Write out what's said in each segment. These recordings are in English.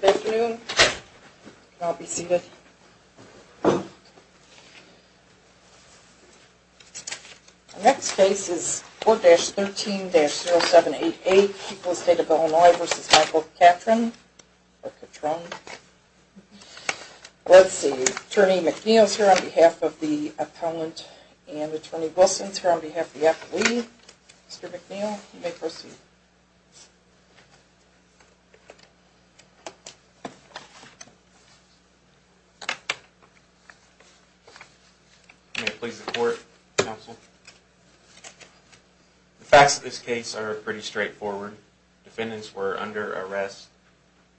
The next case is 4-13-0788, People's State of Illinois v. Michael Cattron. Attorney McNeil is here on behalf of the appellant, and Attorney Wilson is here on behalf of the appellee. Mr. McNeil, you may proceed. Attorney McNeil May it please the Court, Counsel. The facts of this case are pretty straightforward. Defendants were under arrest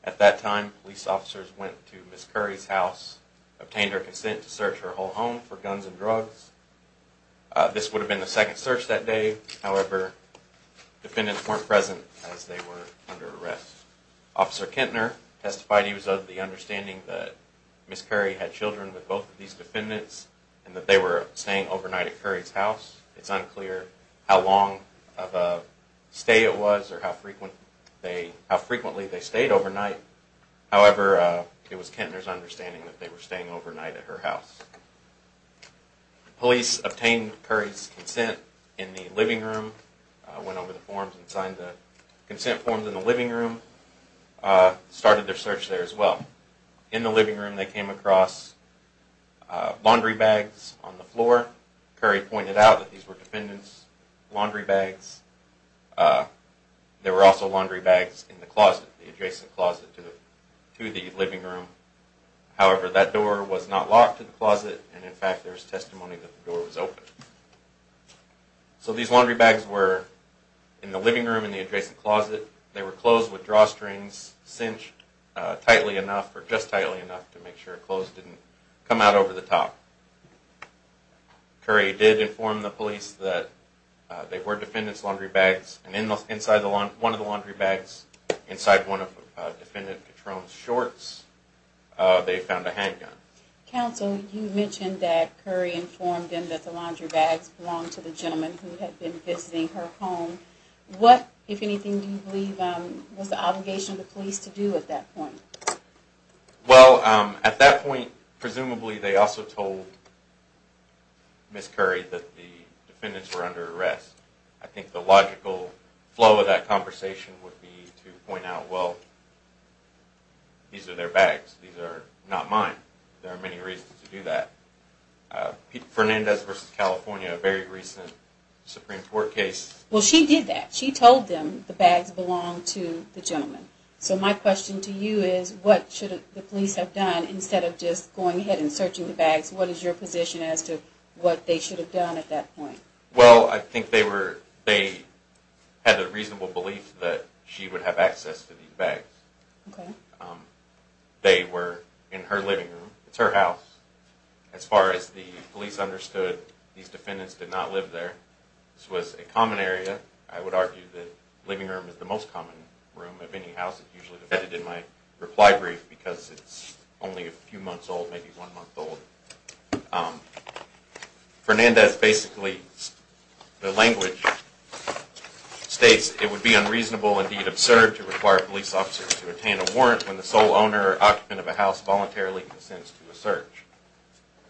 at that time. Police officers went to Ms. Curry's house, obtained her consent to search her whole home for guns and drugs. This would have been the second search that day. However, defendants weren't present as they were under arrest. Officer Kintner testified he was of the understanding that Ms. Curry had children with both of these defendants and that they were staying overnight at Curry's house. It's unclear how long of a stay it was or how frequently they stayed overnight. However, it was Kintner's understanding that they were staying overnight at her house. Police obtained Curry's consent in the living room, went over the forms and signed the consent forms in the living room, started their search there as well. In the living room they came across laundry bags on the floor. Curry pointed out that these were defendants' laundry bags. There were also laundry bags in the closet, the adjacent closet to the living room. However, that door was not locked to the closet and in fact there is testimony that the door was open. So these laundry bags were in the living room in the adjacent closet. They were closed with drawstrings cinched tightly enough or just tightly enough to make sure clothes didn't come out over the top. Curry did inform the police that they were defendants' laundry bags and inside one of the laundry bags, inside one of defendant Katrone's shorts, they found a handgun. Counsel, you mentioned that Curry informed them that the laundry bags belonged to the gentleman who had been visiting her home. What, if anything, do you believe was the obligation of the police to do at that point? Well, at that point presumably they also told Ms. Curry that the defendants were under arrest. I think the logical flow of that conversation would be to point out, well, these are their bags. These are not mine. There are many reasons to do that. Fernandez v. California, a very recent Supreme Court case. Well, she did that. She told them the bags belonged to the gentleman. So my question to you is what should the police have done instead of just going ahead and searching the bags? What is your position as to what they should have done at that point? Well, I think they had the reasonable belief that she would have access to these bags. They were in her living room. It's her house. As far as the police understood, these defendants did not live there. This was a common area. I would argue that the living room is the most common room of any house. It's usually vetted in my reply brief because it's only a few months old, maybe one month old. Fernandez basically, the language states, it would be unreasonable and indeed absurd to require police officers to obtain a warrant when the sole owner or occupant of a house voluntarily consents to a search.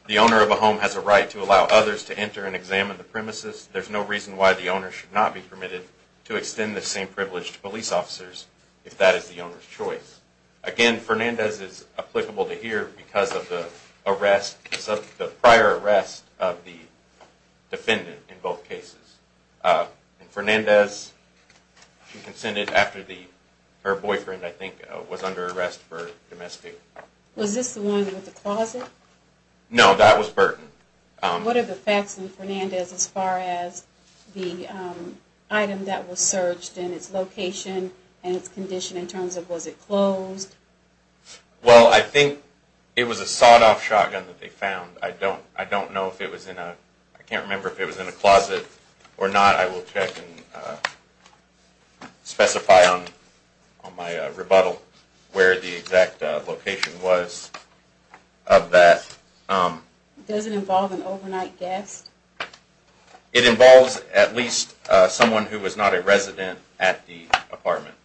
The owner of a home has a right to allow others to enter and examine the premises. There's no reason why the owner should not be permitted to extend the same privilege to police officers if that is the owner's choice. Again, Fernandez is applicable to here because of the prior arrest of the defendant in both cases. Fernandez consented after her boyfriend, I think, was under arrest for domestic abuse. Was this the one with the closet? No, that was Burton. What are the facts in Fernandez as far as the item that was searched and its location and its condition in terms of was it closed? Well, I think it was a sawed off shotgun that they found. I don't know if it was in a, I can't remember if it was in a closet or not. I will check and specify on my rebuttal where the exact location was of that. Does it involve an overnight guest? It involves at least someone who was not a resident at the apartment.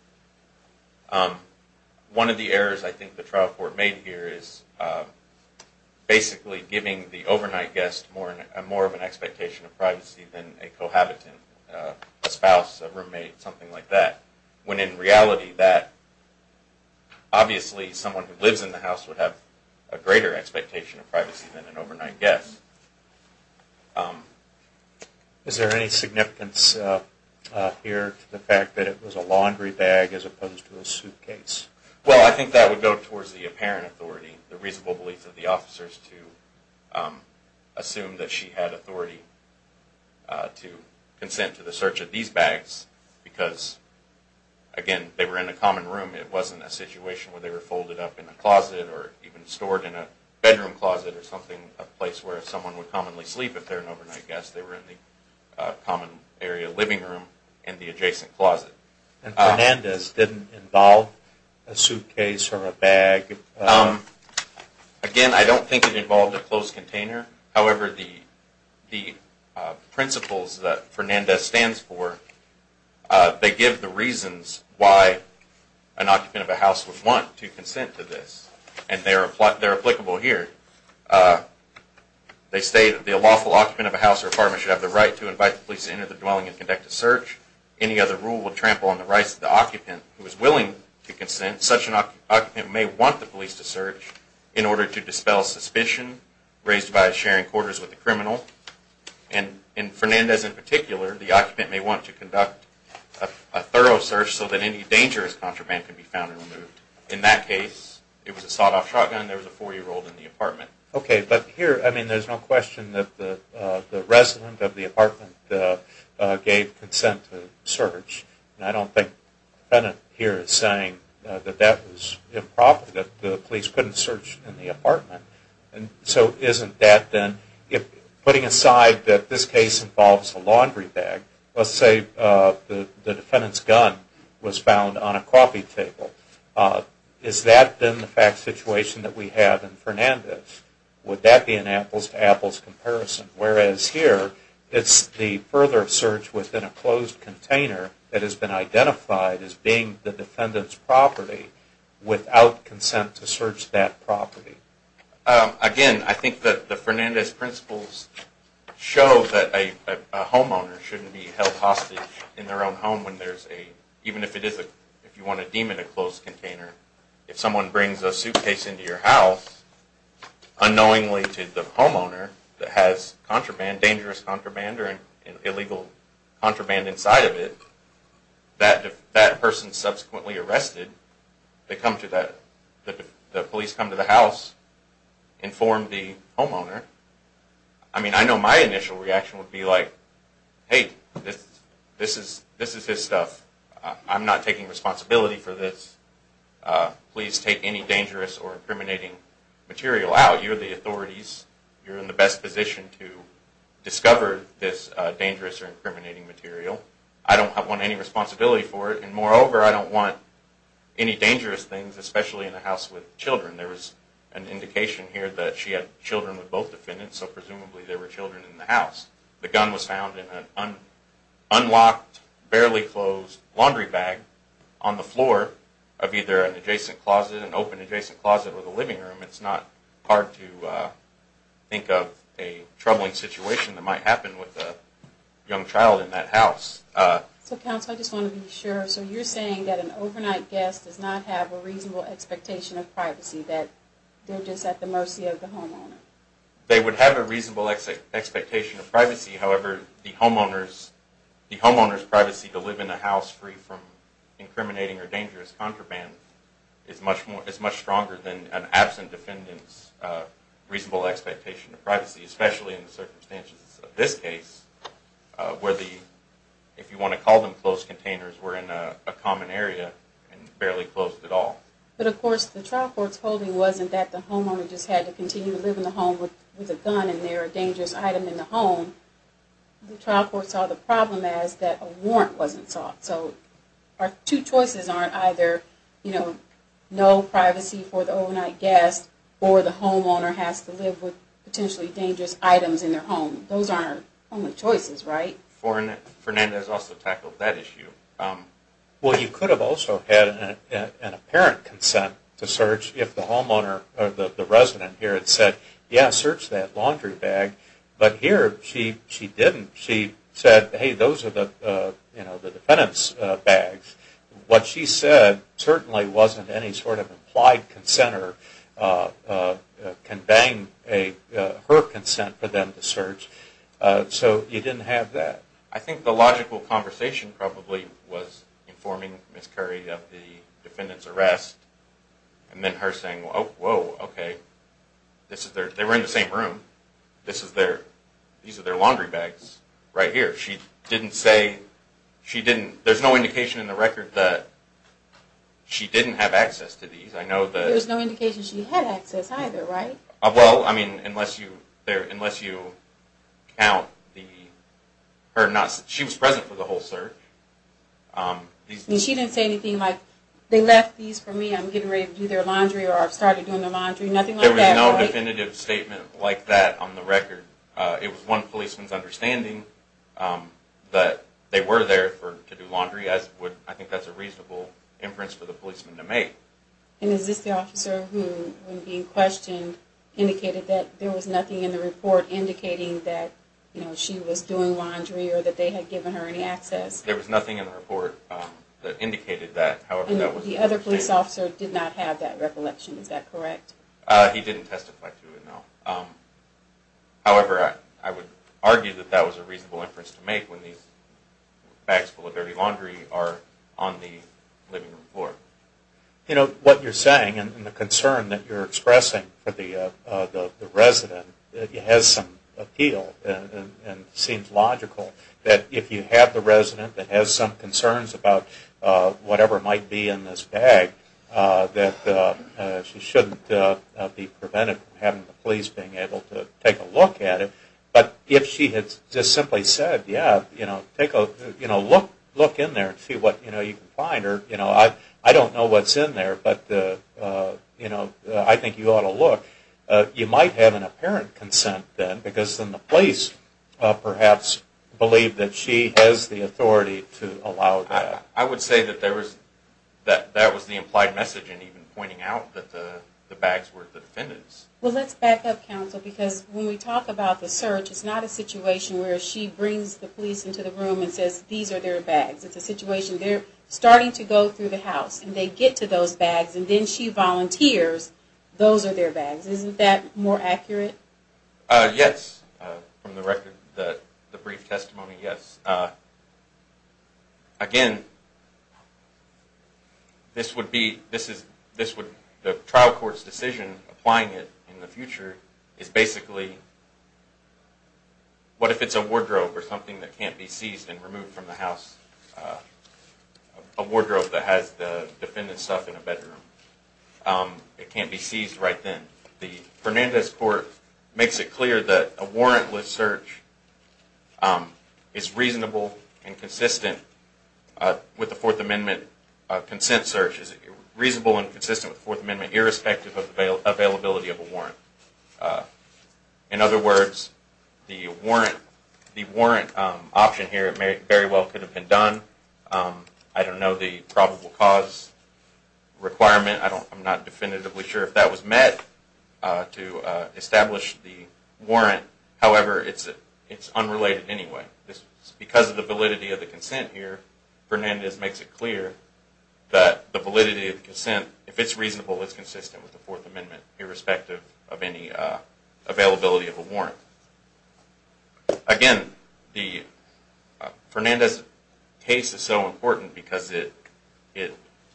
One of the errors I think the trial court made here is basically giving the overnight guest more of an expectation of privacy than a cohabitant, a spouse, a roommate, something like that. When in reality that, obviously someone who lives in the house would have a greater expectation of privacy than an overnight guest. Is there any significance here to the fact that it was a laundry bag as opposed to a suitcase? Well, I think that would go towards the apparent authority, the reasonable belief of the officers to assume that she had authority to consent to the search of these bags because, again, they were in a common room. It wasn't a situation where they were folded up in a closet or even stored in a bedroom closet or something, a place where someone would commonly sleep if they were an overnight guest. They were in the common area living room in the adjacent closet. And Fernandez didn't involve a suitcase or a bag? Again, I don't think it involved a closed container. However, the principles that Fernandez stands for, they give the reasons why an occupant of a house would want to consent to this. And they're applicable here. They say that the lawful occupant of a house or apartment should have the right to invite the police into the dwelling and conduct a search. Any other rule would trample on the rights of the occupant who is willing to consent. And such an occupant may want the police to search in order to dispel suspicion raised by sharing quarters with the criminal. And in Fernandez in particular, the occupant may want to conduct a thorough search so that any dangerous contraband can be found and removed. In that case, it was a sawed-off shotgun. There was a four-year-old in the apartment. Okay, but here, I mean, there's no question that the resident of the apartment gave consent to search. And I don't think the defendant here is saying that that was improper, that the police couldn't search in the apartment. And so isn't that then, putting aside that this case involves a laundry bag, let's say the defendant's gun was found on a coffee table. Is that then the fact situation that we have in Fernandez? Would that be an apples-to-apples comparison? Whereas here, it's the further search within a closed container that has been identified as being the defendant's property without consent to search that property. Again, I think that the Fernandez principles show that a homeowner shouldn't be held hostage in their own home, even if you want to deem it a closed container. If someone brings a suitcase into your house, unknowingly to the homeowner that has dangerous contraband or illegal contraband inside of it, that person subsequently arrested, the police come to the house, inform the homeowner. I mean, I know my initial reaction would be like, hey, this is his stuff. I'm not taking responsibility for this. Please take any dangerous or incriminating material out. You're the authorities. You're in the best position to discover this dangerous or incriminating material. I don't want any responsibility for it. And moreover, I don't want any dangerous things, especially in a house with children. There was an indication here that she had children with both defendants, so presumably there were children in the house. The gun was found in an unlocked, barely closed laundry bag on the floor of either an adjacent closet, an open adjacent closet, or the living room. It's not hard to think of a troubling situation that might happen with a young child in that house. So, counsel, I just want to be sure. So you're saying that an overnight guest does not have a reasonable expectation of privacy, that they're just at the mercy of the homeowner? They would have a reasonable expectation of privacy. However, the homeowner's privacy to live in a house free from incriminating or dangerous contraband is much stronger than an absent defendant's reasonable expectation of privacy, especially in the circumstances of this case, where the, if you want to call them closed containers, were in a common area and barely closed at all. But, of course, the trial court's holding wasn't that the homeowner just had to continue to live in the home with a gun in there, a dangerous item in the home. The trial court saw the problem as that a warrant wasn't sought. So our two choices aren't either, you know, no privacy for the overnight guest or the homeowner has to live with potentially dangerous items in their home. Those aren't our only choices, right? Fernandez also tackled that issue. Well, you could have also had an apparent consent to search if the homeowner or the resident here had said, yeah, search that laundry bag. But here she didn't. She said, hey, those are the defendant's bags. What she said certainly wasn't any sort of implied consent or conveying her consent for them to search. So you didn't have that. I think the logical conversation probably was informing Ms. Curry of the defendant's arrest and then her saying, oh, whoa, okay. They were in the same room. These are their laundry bags right here. She didn't say, she didn't, there's no indication in the record that she didn't have access to these. There was no indication she had access either, right? Well, I mean, unless you count the, she was present for the whole search. She didn't say anything like, they left these for me, I'm getting ready to do their laundry or I've started doing their laundry, nothing like that? There was no definitive statement like that on the record. It was one policeman's understanding that they were there to do laundry. I think that's a reasonable inference for the policeman to make. And is this the officer who, when being questioned, indicated that there was nothing in the report indicating that she was doing laundry or that they had given her any access? There was nothing in the report that indicated that. The other police officer did not have that recollection, is that correct? He didn't testify to it, no. However, I would argue that that was a reasonable inference to make when these bags full of dirty laundry are on the living room floor. You know, what you're saying and the concern that you're expressing for the resident has some appeal and seems logical. That if you have the resident that has some concerns about whatever might be in this bag, that she shouldn't be prevented from having the police being able to take a look at it. But if she had just simply said, yeah, you know, look in there and see what you can find. Or, you know, I don't know what's in there, but I think you ought to look. You might have an apparent consent then, because then the police perhaps believe that she has the authority to allow that. I would say that that was the implied message in even pointing out that the bags were the defendant's. Well, let's back up, counsel, because when we talk about the search, it's not a situation where she brings the police into the room and says, these are their bags. It's a situation where they're starting to go through the house and they get to those bags and then she volunteers, those are their bags. Isn't that more accurate? Yes, from the brief testimony, yes. Again, the trial court's decision applying it in the future is basically, what if it's a wardrobe or something that can't be seized and removed from the house? A wardrobe that has the defendant's stuff in a bedroom. It can't be seized right then. The Fernandez court makes it clear that a warrantless search is reasonable and consistent with the Fourth Amendment consent search. It's reasonable and consistent with the Fourth Amendment, irrespective of the availability of a warrant. In other words, the warrant option here very well could have been done. I don't know the probable cause requirement. I'm not definitively sure if that was met to establish the warrant. However, it's unrelated anyway. Because of the validity of the consent here, Fernandez makes it clear that the validity of the consent, if it's reasonable, it's consistent with the Fourth Amendment, irrespective of any availability of a warrant. Again, Fernandez's case is so important because it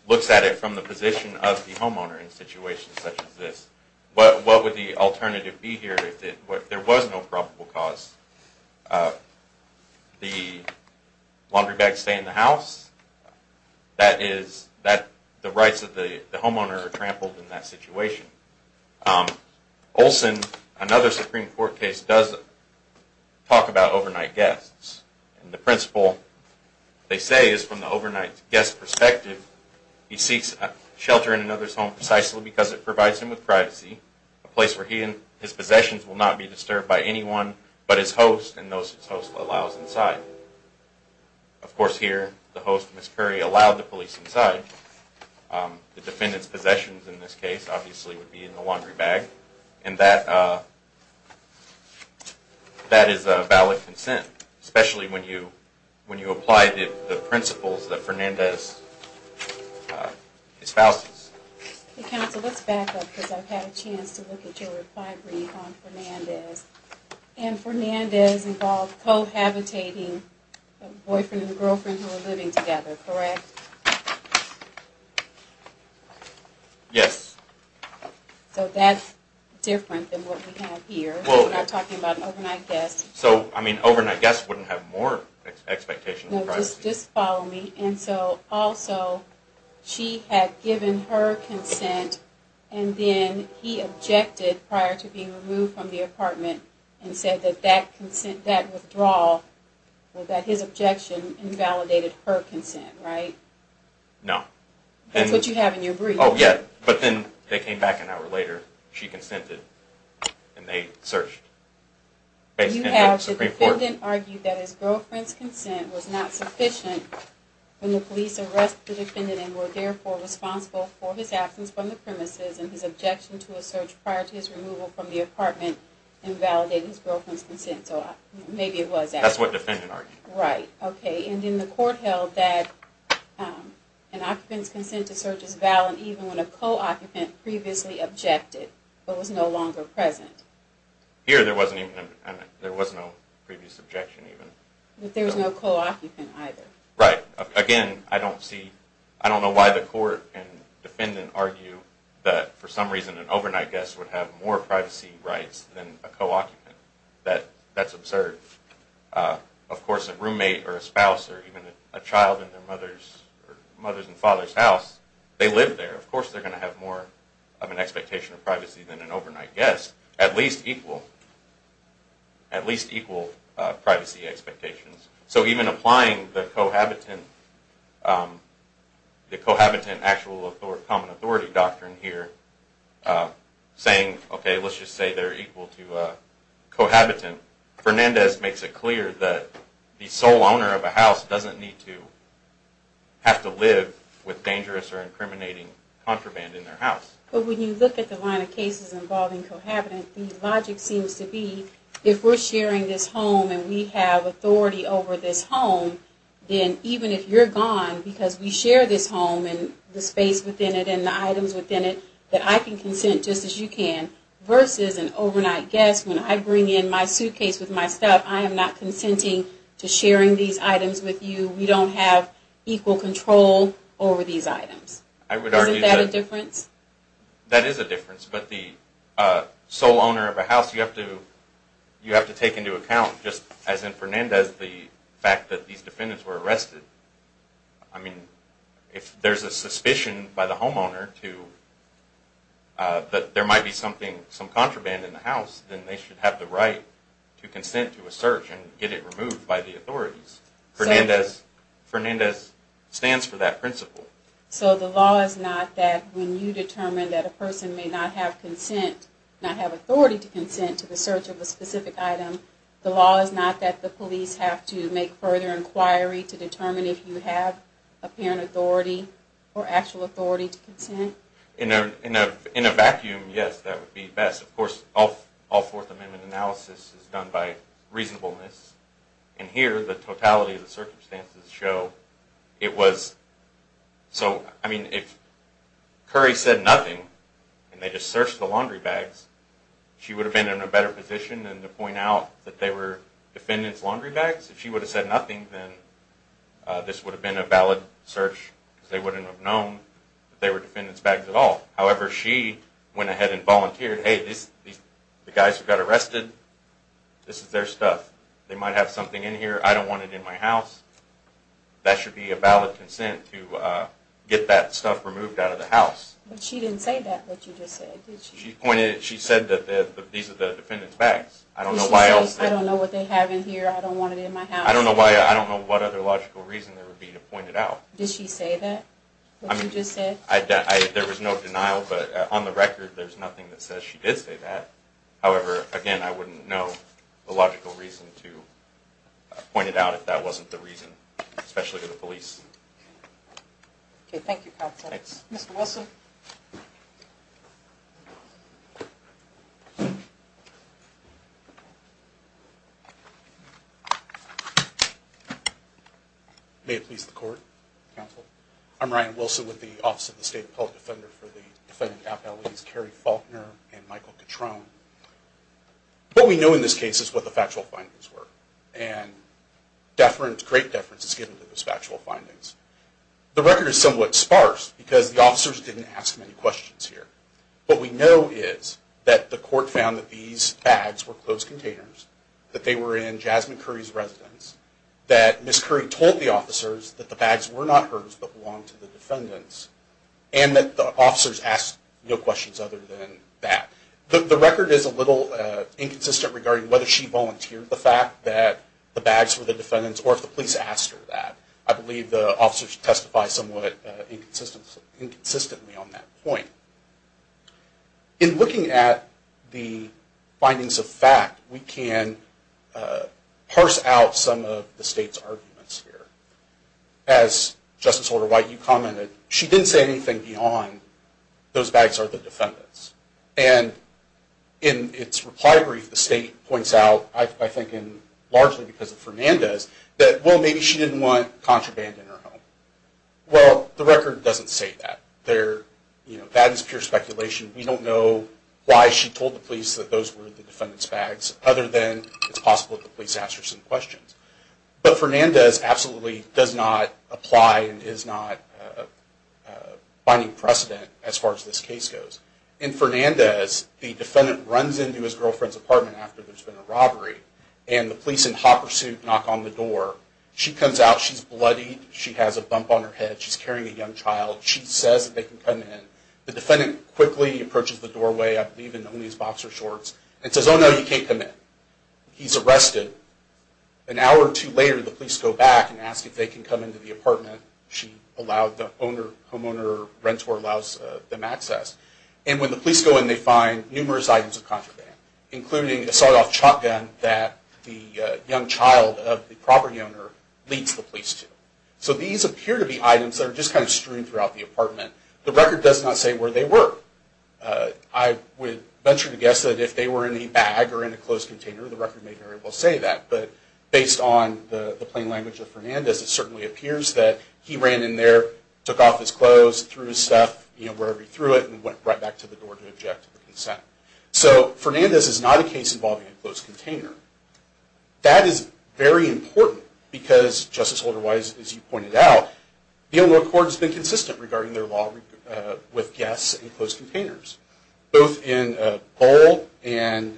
looks at it from the position of the homeowner in situations such as this. What would the alternative be here if there was no probable cause? The laundry bag stay in the house? The rights of the homeowner are trampled in that situation. Olson, another Supreme Court case, does talk about overnight guests. The principle, they say, is from the overnight guest perspective, he seeks shelter in another's home precisely because it provides him with privacy, a place where his possessions will not be disturbed by anyone but his host and those his host allows inside. Of course, here, the host, Ms. Curry, allowed the police inside. The defendant's possessions in this case, obviously, would be in the laundry bag. And that is a valid consent, especially when you apply the principles that Fernandez espouses. Counsel, let's back up because I've had a chance to look at your reply brief on Fernandez. And Fernandez involved cohabitating a boyfriend and a girlfriend who were living together, correct? Yes. So that's different than what we have here. We're not talking about an overnight guest. So, I mean, overnight guests wouldn't have more expectations of privacy. Just follow me. And so, also, she had given her consent and then he objected prior to being removed from the apartment and said that that withdrawal, that his objection, invalidated her consent, right? No. That's what you have in your brief. Oh, yeah. But then they came back an hour later, she consented, and they searched. You have the defendant argue that his girlfriend's consent was not sufficient when the police arrested the defendant and were, therefore, responsible for his absence from the premises and his objection to a search prior to his removal from the apartment invalidating his girlfriend's consent. So maybe it was that. That's what the defendant argued. Right. Okay. And then the court held that an occupant's consent to search is valid even when a co-occupant previously objected but was no longer present. Here, there was no previous objection even. But there was no co-occupant either. Right. Again, I don't know why the court and defendant argue that, for some reason, an overnight guest would have more privacy rights than a co-occupant. That's absurd. Of course, a roommate or a spouse or even a child in their mother's and father's house, they live there. Of course, they're going to have more of an expectation of privacy than an overnight guest, at least equal privacy expectations. So even applying the cohabitant actual common authority doctrine here, saying, okay, let's just say they're equal to a cohabitant, Fernandez makes it clear that the sole owner of a house doesn't need to have to live with dangerous or incriminating contraband in their house. But when you look at the line of cases involving cohabitants, the logic seems to be, if we're sharing this home and we have authority over this home, then even if you're gone, because we share this home and the space within it and the items within it, that I can consent just as you can, versus an overnight guest, when I bring in my suitcase with my stuff, I am not consenting to sharing these items with you. We don't have equal control over these items. Isn't that a difference? That is a difference. But the sole owner of a house, you have to take into account, just as in Fernandez, the fact that these defendants were arrested. I mean, if there's a suspicion by the homeowner that there might be some contraband in the house, then they should have the right to consent to a search and get it removed by the authorities. Fernandez stands for that principle. So the law is not that when you determine that a person may not have authority to consent to the search of a specific item, the law is not that the police have to make further inquiry to determine if you have apparent authority or actual authority to consent? In a vacuum, yes, that would be best. Of course, all Fourth Amendment analysis is done by reasonableness. And here, the totality of the circumstances show it was... So, I mean, if Curry said nothing, and they just searched the laundry bags, she would have been in a better position than to point out that they were defendants' laundry bags? If she would have said nothing, then this would have been a valid search, because they wouldn't have known that they were defendants' bags at all. However, she went ahead and volunteered, hey, the guys who got arrested, this is their stuff. They might have something in here. I don't want it in my house. That should be a valid consent to get that stuff removed out of the house. But she didn't say that, what you just said, did she? She said that these are the defendants' bags. I don't know why else... She said, I don't know what they have in here. I don't want it in my house. I don't know what other logical reason there would be to point it out. Did she say that, what you just said? There was no denial, but on the record, there's nothing that says she did say that. However, again, I wouldn't know a logical reason to point it out if that wasn't the reason, especially to the police. Okay, thank you, counsel. Thanks. Mr. Wilson? May it please the Court? Counsel? I'm Ryan Wilson with the Office of the State Appellate Defender for the Defendant Appellees Carrie Faulkner and Michael Catrone. What we know in this case is what the factual findings were. And great deference is given to those factual findings. The record is somewhat sparse because the officers didn't ask many questions here. What we know is that the court found that these bags were closed containers, that they were in Jasmine Curry's residence, that Ms. Curry told the officers that the bags were not hers but belonged to the defendants, and that the officers asked no questions other than that. The record is a little inconsistent regarding whether she volunteered the fact that the bags were the defendants or if the police asked her that. I believe the officers testify somewhat inconsistently on that point. In looking at the findings of fact, we can parse out some of the State's arguments here. As Justice Holder-White, you commented, she didn't say anything beyond those bags are the defendants. And in its reply brief, the State points out, I think largely because of Fernandez, that, well, maybe she didn't want contraband in her home. Well, the record doesn't say that. That is pure speculation. We don't know why she told the police that those were the defendants' bags, other than it's possible that the police asked her some questions. But Fernandez absolutely does not apply and is not finding precedent as far as this case goes. In Fernandez, the defendant runs into his girlfriend's apartment after there's been a robbery, and the police in hot pursuit knock on the door. She comes out. She's bloodied. She has a bump on her head. She's carrying a young child. She says that they can come in. The defendant quickly approaches the doorway, I believe in one of these boxer shorts, and says, oh, no, you can't come in. He's arrested. An hour or two later, the police go back and ask if they can come into the apartment. She allowed the owner, homeowner, renter allows them access. And when the police go in, they find numerous items of contraband, including a sawed-off shotgun that the young child of the property owner leads the police to. So these appear to be items that are just kind of strewn throughout the apartment. The record does not say where they were. I would venture to guess that if they were in a bag or in a closed container, the record may very well say that. But based on the plain language of Fernandez, it certainly appears that he ran in there, took off his clothes, threw his stuff, you know, wherever he threw it, and went right back to the door to object to the consent. So Fernandez is not a case involving a closed container. That is very important because, Justice Holderwise, as you pointed out, the Illinois court has been consistent regarding their law with guests in closed containers. Both in Bohl and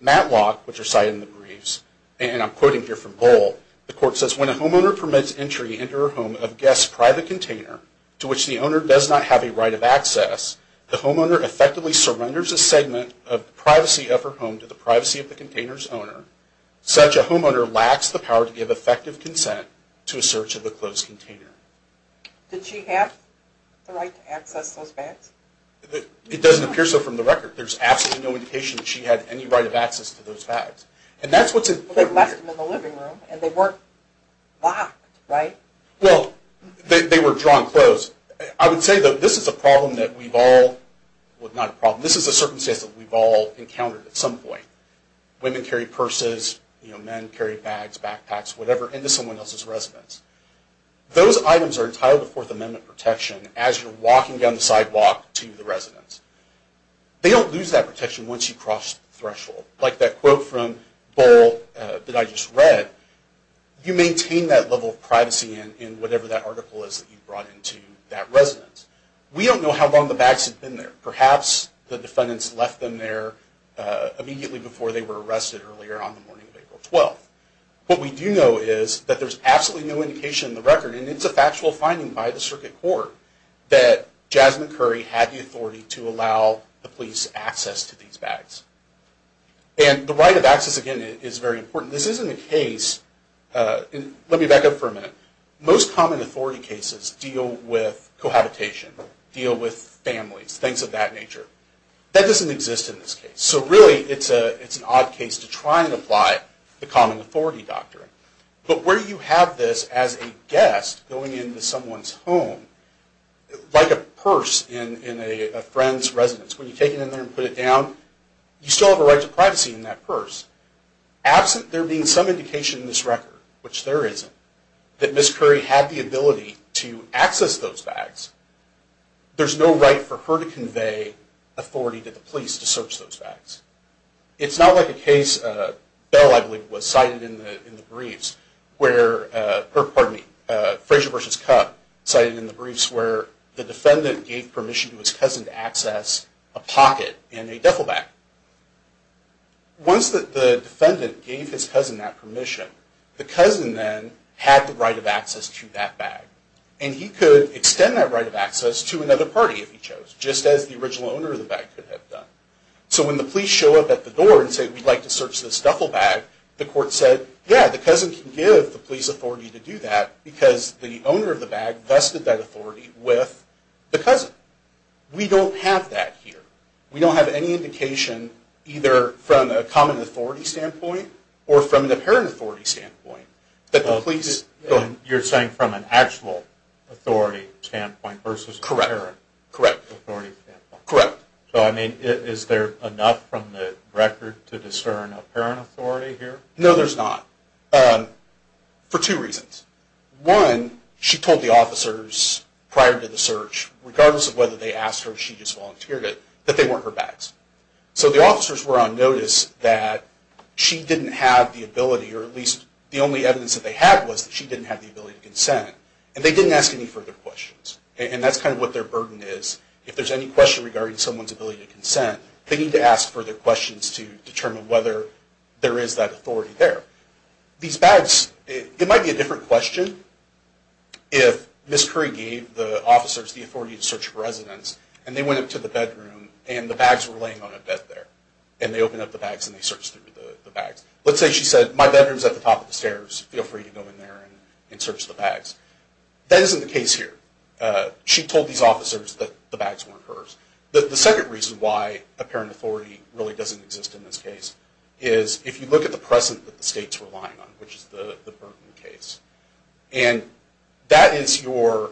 Matlock, which are cited in the briefs, and I'm quoting here from Bohl, the court says, When a homeowner permits entry into a home of a guest's private container to which the owner does not have a right of access, the homeowner effectively surrenders a segment of the privacy of her home to the privacy of the container's owner. Such a homeowner lacks the power to give effective consent to a search of a closed container. Did she have the right to access those bags? It doesn't appear so from the record. There's absolutely no indication that she had any right of access to those bags. And that's what's in here. Well, they left them in the living room, and they weren't locked, right? Well, they were drawn closed. I would say, though, this is a problem that we've all, well, not a problem, this is a circumstance that we've all encountered at some point. Women carry purses, men carry bags, backpacks, whatever, into someone else's residence. Those items are entitled to Fourth Amendment protection as you're walking down the sidewalk to the residence. They don't lose that protection once you cross the threshold. Like that quote from Bohl that I just read, you maintain that level of privacy in whatever that article is that you brought into that residence. We don't know how long the bags had been there. Perhaps the defendants left them there immediately before they were arrested earlier on the morning of April 12th. What we do know is that there's absolutely no indication in the record, and it's a factual finding by the Circuit Court, that Jasmine Curry had the authority to allow the police access to these bags. And the right of access, again, is very important. This isn't a case, and let me back up for a minute. Most common authority cases deal with cohabitation, deal with families, things of that nature. That doesn't exist in this case. So really, it's an odd case to try and apply the common authority doctrine. But where you have this as a guest going into someone's home, like a purse in a friend's residence, when you take it in there and put it down, you still have a right to privacy in that purse. Absent there being some indication in this record, which there isn't, that Ms. Curry had the ability to access those bags, there's no right for her to convey authority to the police to search those bags. It's not like a case, Bell, I believe, was cited in the briefs, where, pardon me, Frazier v. Cupp, cited in the briefs where the defendant gave permission to his cousin to access a pocket in a duffel bag. Once the defendant gave his cousin that permission, the cousin then had the right of access to that bag. And he could extend that right of access to another party if he chose, just as the original owner of the bag could have done. So when the police show up at the door and say, we'd like to search this duffel bag, the court said, yeah, the cousin can give the police authority to do that, because the owner of the bag vested that authority with the cousin. We don't have that here. We don't have any indication, either from a common authority standpoint, or from an apparent authority standpoint, that the police... You're saying from an actual authority standpoint versus an apparent authority standpoint. Correct. So, I mean, is there enough from the record to discern an apparent authority here? No, there's not. For two reasons. One, she told the officers prior to the search, regardless of whether they asked her or she just volunteered it, that they weren't her bags. So the officers were on notice that she didn't have the ability, or at least the only evidence that they had was that she didn't have the ability to consent, and they didn't ask any further questions. And that's kind of what their burden is. If there's any question regarding someone's ability to consent, they need to ask further questions to determine whether there is that authority there. These bags, it might be a different question if Ms. Curry gave the officers the authority to search for residents, and they went up to the bedroom, and the bags were laying on a bed there. And they opened up the bags, and they searched through the bags. Let's say she said, my bedroom's at the top of the stairs. Feel free to go in there and search the bags. That isn't the case here. She told these officers that the bags weren't hers. The second reason why apparent authority really doesn't exist in this case is if you look at the present that the state's relying on, which is the Burton case. And that is your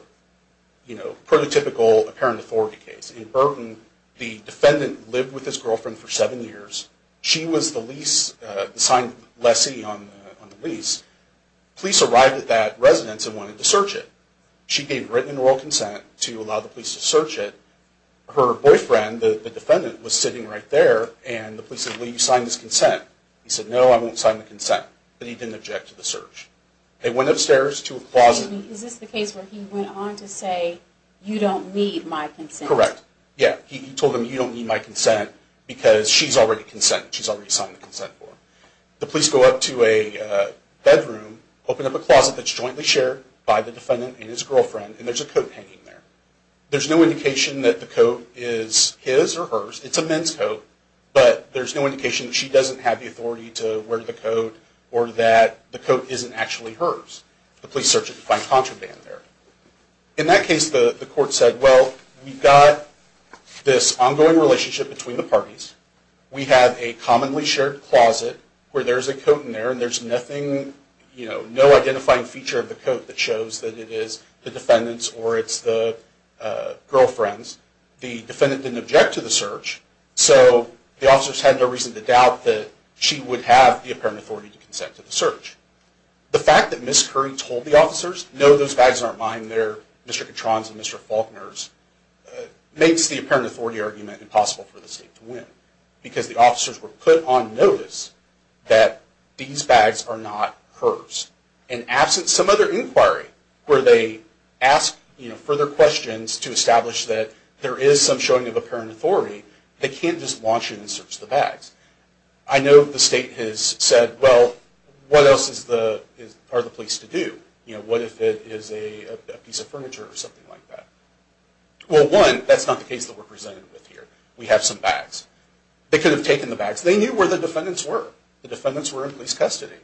prototypical apparent authority case. In Burton, the defendant lived with his girlfriend for seven years. She was the lease, the signed lessee on the lease. Police arrived at that residence and wanted to search it. She gave written and oral consent to allow the police to search it. Her boyfriend, the defendant, was sitting right there, and the police said, will you sign this consent? He said, no, I won't sign the consent. But he didn't object to the search. They went upstairs to a closet. Is this the case where he went on to say, you don't need my consent? Correct. Yeah. He told them, you don't need my consent, because she's already consent. She's already signed the consent form. The police go up to a bedroom, open up a closet that's jointly shared by the defendant and his girlfriend, and there's a coat hanging there. There's no indication that the coat is his or hers. It's a men's coat, but there's no indication that she doesn't have the authority to wear the coat or that the coat isn't actually hers. The police search it to find contraband there. In that case, the court said, well, we've got this ongoing relationship between the parties. We have a commonly shared closet where there's a coat in there, and there's nothing, you know, no identifying feature of the coat that shows that it is the defendant's or it's the girlfriend's. The defendant didn't object to the search, so the officers had no reason to doubt that she would have the apparent authority to consent to the search. The fact that Ms. Curry told the officers, no, those bags aren't mine, they're Mr. Katron's and Mr. Faulkner's, makes the apparent authority argument impossible for the state to win, because the officers were put on notice that these bags are not hers. And absent some other inquiry where they ask, you know, further questions to establish that there is some showing of apparent authority, they can't just launch it and search the bags. I know the state has said, well, what else are the police to do? You know, what if it is a piece of furniture or something like that? Well, one, that's not the case that we're presented with here. We have some bags. They could have taken the bags. They knew where the defendants were. The defendants were in police custody.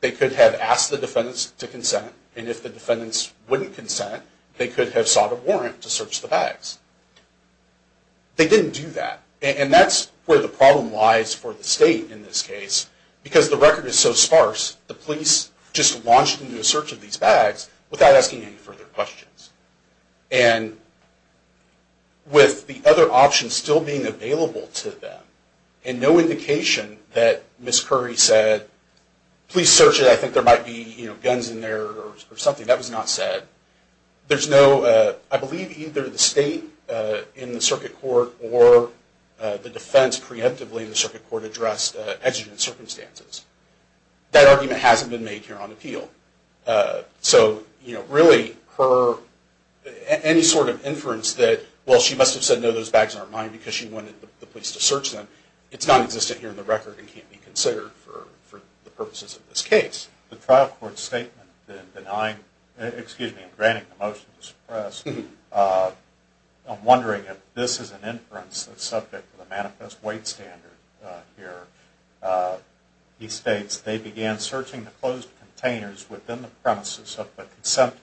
They could have asked the defendants to consent, and if the defendants wouldn't consent, they could have sought a warrant to search the bags. They didn't do that. And that's where the problem lies for the state in this case, because the record is so sparse. The police just launched into a search of these bags without asking any further questions. And with the other options still being available to them, and no indication that Ms. Curry said, please search it, I think there might be guns in there or something. That was not said. There's no, I believe either the state in the circuit court or the defense preemptively in the circuit court addressed exigent circumstances. That argument hasn't been made here on appeal. So, you know, really, any sort of inference that, well, she must have said, no, those bags aren't mine because she wanted the police to search them, it's nonexistent here in the record and can't be considered for the purposes of this case. The trial court's statement in denying, excuse me, in granting the motion to suppress, I'm wondering if this is an inference that's subject to the manifest weight standard here. He states, they began searching the closed containers within the premises of the consentor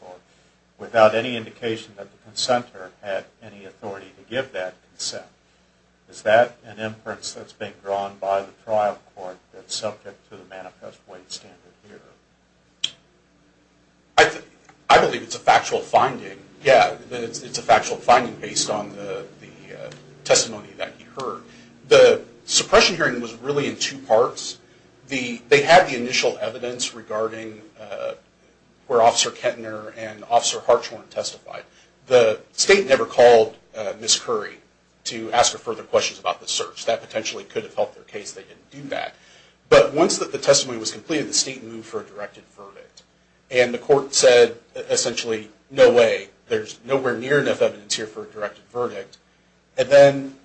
without any indication that the consentor had any authority to give that consent. Is that an inference that's being drawn by the trial court that's subject to the manifest weight standard here? I believe it's a factual finding. Yeah, it's a factual finding based on the testimony that he heard. The suppression hearing was really in two parts. They had the initial evidence regarding where Officer Kettner and Officer Harch weren't testified. The state never called Ms. Curry to ask her further questions about the search. That potentially could have helped their case. They didn't do that. But once the testimony was completed, the state moved for a directed verdict. And the court said, essentially, no way. There's nowhere near enough evidence here for a directed verdict. And then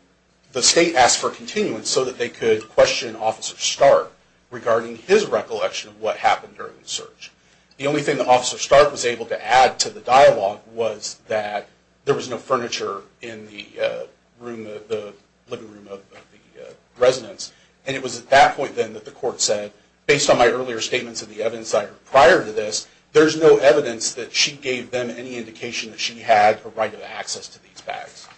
the state asked for continuance so that they could question Officer Stark regarding his recollection of what happened during the search. The only thing that Officer Stark was able to add to the dialogue was that there was no furniture in the living room of the residence. And it was at that point, then, that the court said, based on my earlier statements of the evidence I heard prior to this, there's no evidence that she gave them any indication that she had a right of access to these bags.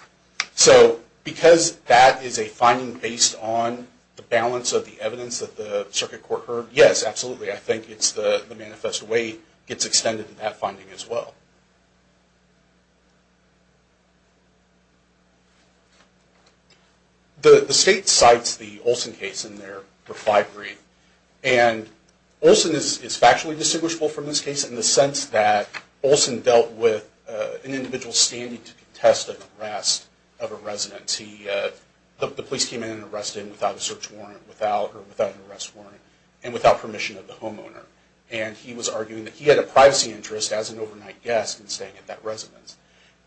So because that is a finding based on the balance of the evidence that the circuit court heard, yes, absolutely, I think the manifest way gets extended to that finding as well. The state cites the Olson case in their refinery. And Olson is factually distinguishable from this case in the sense that Olson dealt with an individual standing to contest an arrest of a resident. The police came in and arrested him without a search warrant or without an arrest warrant and without permission of the homeowner. And he was arguing that he had a privacy interest as an overnight guest in staying at that residence.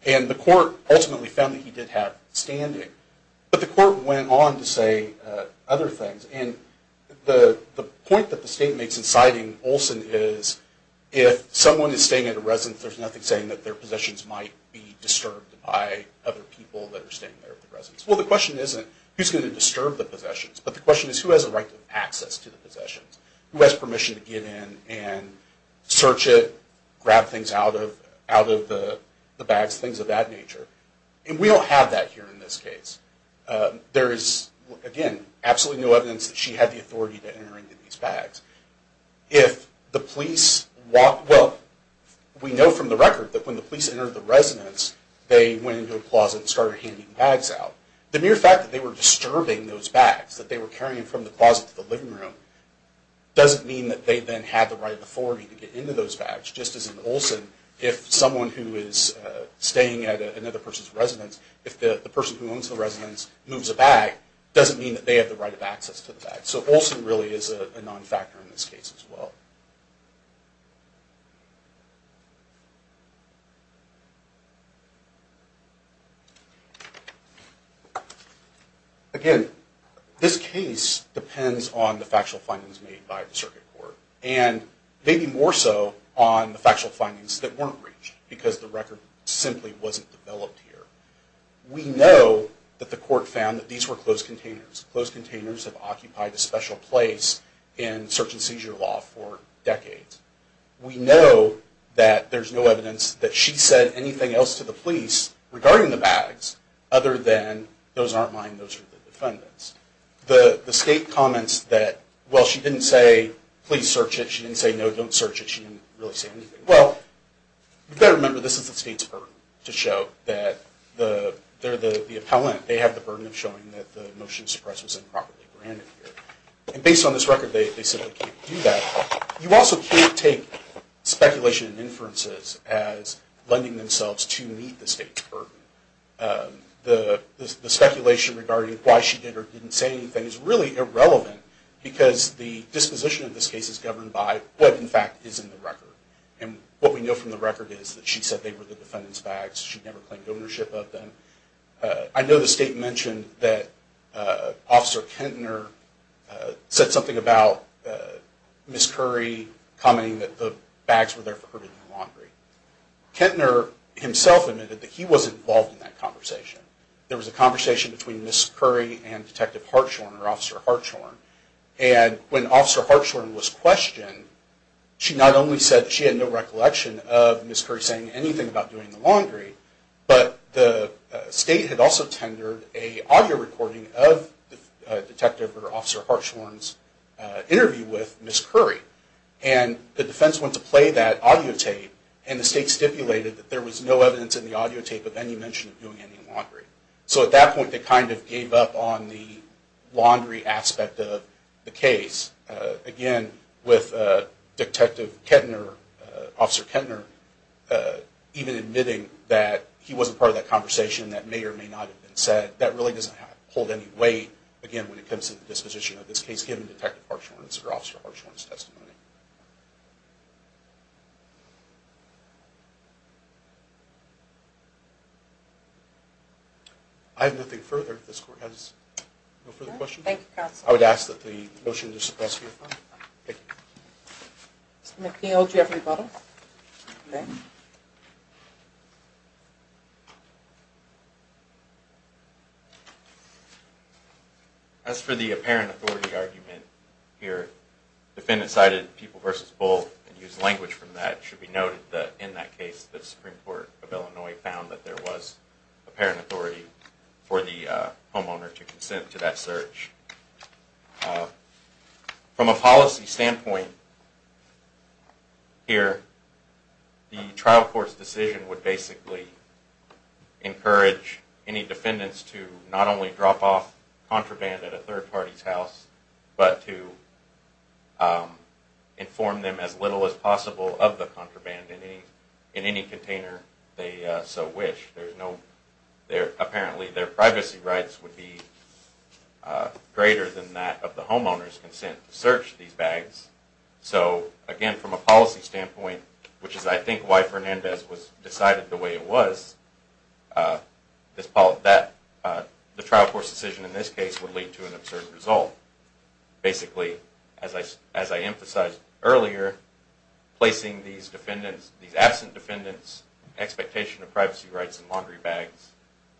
And the court ultimately found that he did have standing. But the court went on to say other things. And the point that the state makes in citing Olson is, if someone is staying at a residence, there's nothing saying that their possessions might be disturbed by other people that are staying there at the residence. Well, the question isn't who's going to disturb the possessions, but the question is who has a right to access to the possessions, who has permission to get in and search it, grab things out of the bags, things of that nature. And we don't have that here in this case. There is, again, absolutely no evidence that she had the authority to enter into these bags. If the police walked... Well, we know from the record that when the police entered the residence, they went into a closet and started handing bags out. The mere fact that they were disturbing those bags, that they were carrying them from the closet to the living room, doesn't mean that they then have the right of authority to get into those bags. Just as in Olson, if someone who is staying at another person's residence, if the person who owns the residence moves a bag, doesn't mean that they have the right of access to the bag. So Olson really is a non-factor in this case as well. Again, this case depends on the factual findings made by the circuit court, and maybe more so on the factual findings that weren't reached, because the record simply wasn't developed here. We know that the court found that these were closed containers. Closed containers have occupied a special place in search and seizure law for decades. We know that there's no evidence that she said anything else to the police regarding the bags, other than, those aren't mine, those are the defendant's. The state comments that, well, she didn't say, please search it, she didn't say no, don't search it, she didn't really say anything. Well, you better remember this is the state's burden, to show that they're the appellant. They have the burden of showing that the motion to suppress was improperly granted here. And based on this record, they simply can't do that. You also can't take speculation and inferences as lending themselves to meet the state's burden. The speculation regarding why she did or didn't say anything is really irrelevant, because the disposition of this case is governed by what, in fact, is in the record. And what we know from the record is that she said they were the defendant's bags, she never claimed ownership of them. I know the state mentioned that Officer Kentner said something about Ms. Curry commenting that the bags were there for her to do the laundry. Kentner himself admitted that he wasn't involved in that conversation. There was a conversation between Ms. Curry and Detective Hartshorne, or Officer Hartshorne, and when Officer Hartshorne was questioned, she not only said that she had no recollection of Ms. Curry saying anything about doing the laundry, but the state had also tendered an audio recording of Detective or Officer Hartshorne's interview with Ms. Curry. And the defense went to play that audio tape, and the state stipulated that there was no evidence in the audio tape of any mention of doing any laundry. So at that point, they kind of gave up on the laundry aspect of the case, again, with Detective Kentner, Officer Kentner, even admitting that he wasn't part of that conversation, that may or may not have been said. That really doesn't hold any weight, again, when it comes to the disposition of this case, given Detective Hartshorne's or Officer Hartshorne's testimony. I have nothing further if this Court has no further questions. Thank you, Counsel. I would ask that the motion be dismissed. Mr. McNeil, do you have a rebuttal? As for the apparent authority argument here, the defendant cited People v. Bull and used language from that. It should be noted that in that case, the Supreme Court of Illinois found that there was apparent authority for the homeowner to consent to that search. From a policy standpoint here, the trial court's decision would basically encourage any defendants to not only drop off contraband at a third party's house, but to inform them as little as possible of the contraband in any container they so wish. Apparently, their privacy rights would be greater than that of the homeowner's consent to search these bags. So, again, from a policy standpoint, which is I think why Fernandez was decided the way it was, the trial court's decision in this case would lead to an absurd result. Basically, as I emphasized earlier, placing these absent defendants' expectation of privacy rights and laundry bags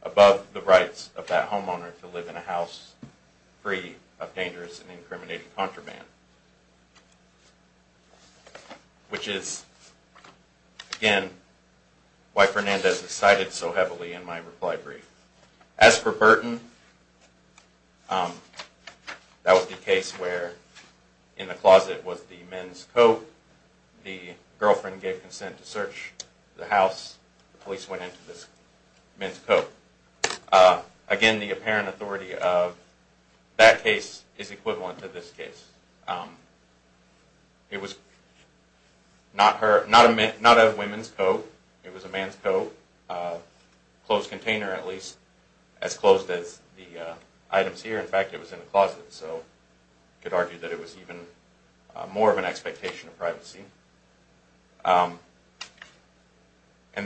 above the rights of that homeowner to live in a house free of dangerous and incriminating contraband, which is, again, why Fernandez is cited so heavily in my reply brief. As for Burton, that was the case where in the closet was the men's coat, the girlfriend gave consent to search the house, the police went into this men's coat. Again, the apparent authority of that case is equivalent to this case. It was not a women's coat, it was a man's coat, closed container at least, as closed as the items here. In fact, it was in the closet, so you could argue that it was even more of an expectation of privacy. And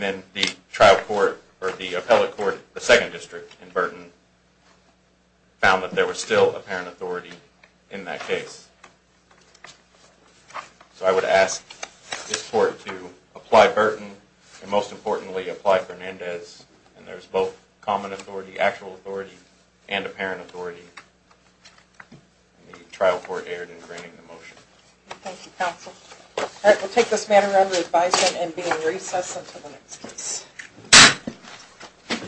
then the trial court, or the appellate court, the second district in Burton, found that there was still apparent authority in that case. So I would ask this court to apply Burton, and most importantly, apply Fernandez, and there's both common authority, actual authority, and apparent authority. The trial court erred in granting the motion. Thank you, counsel. All right, we'll take this matter under advisement and be in recess until the next case.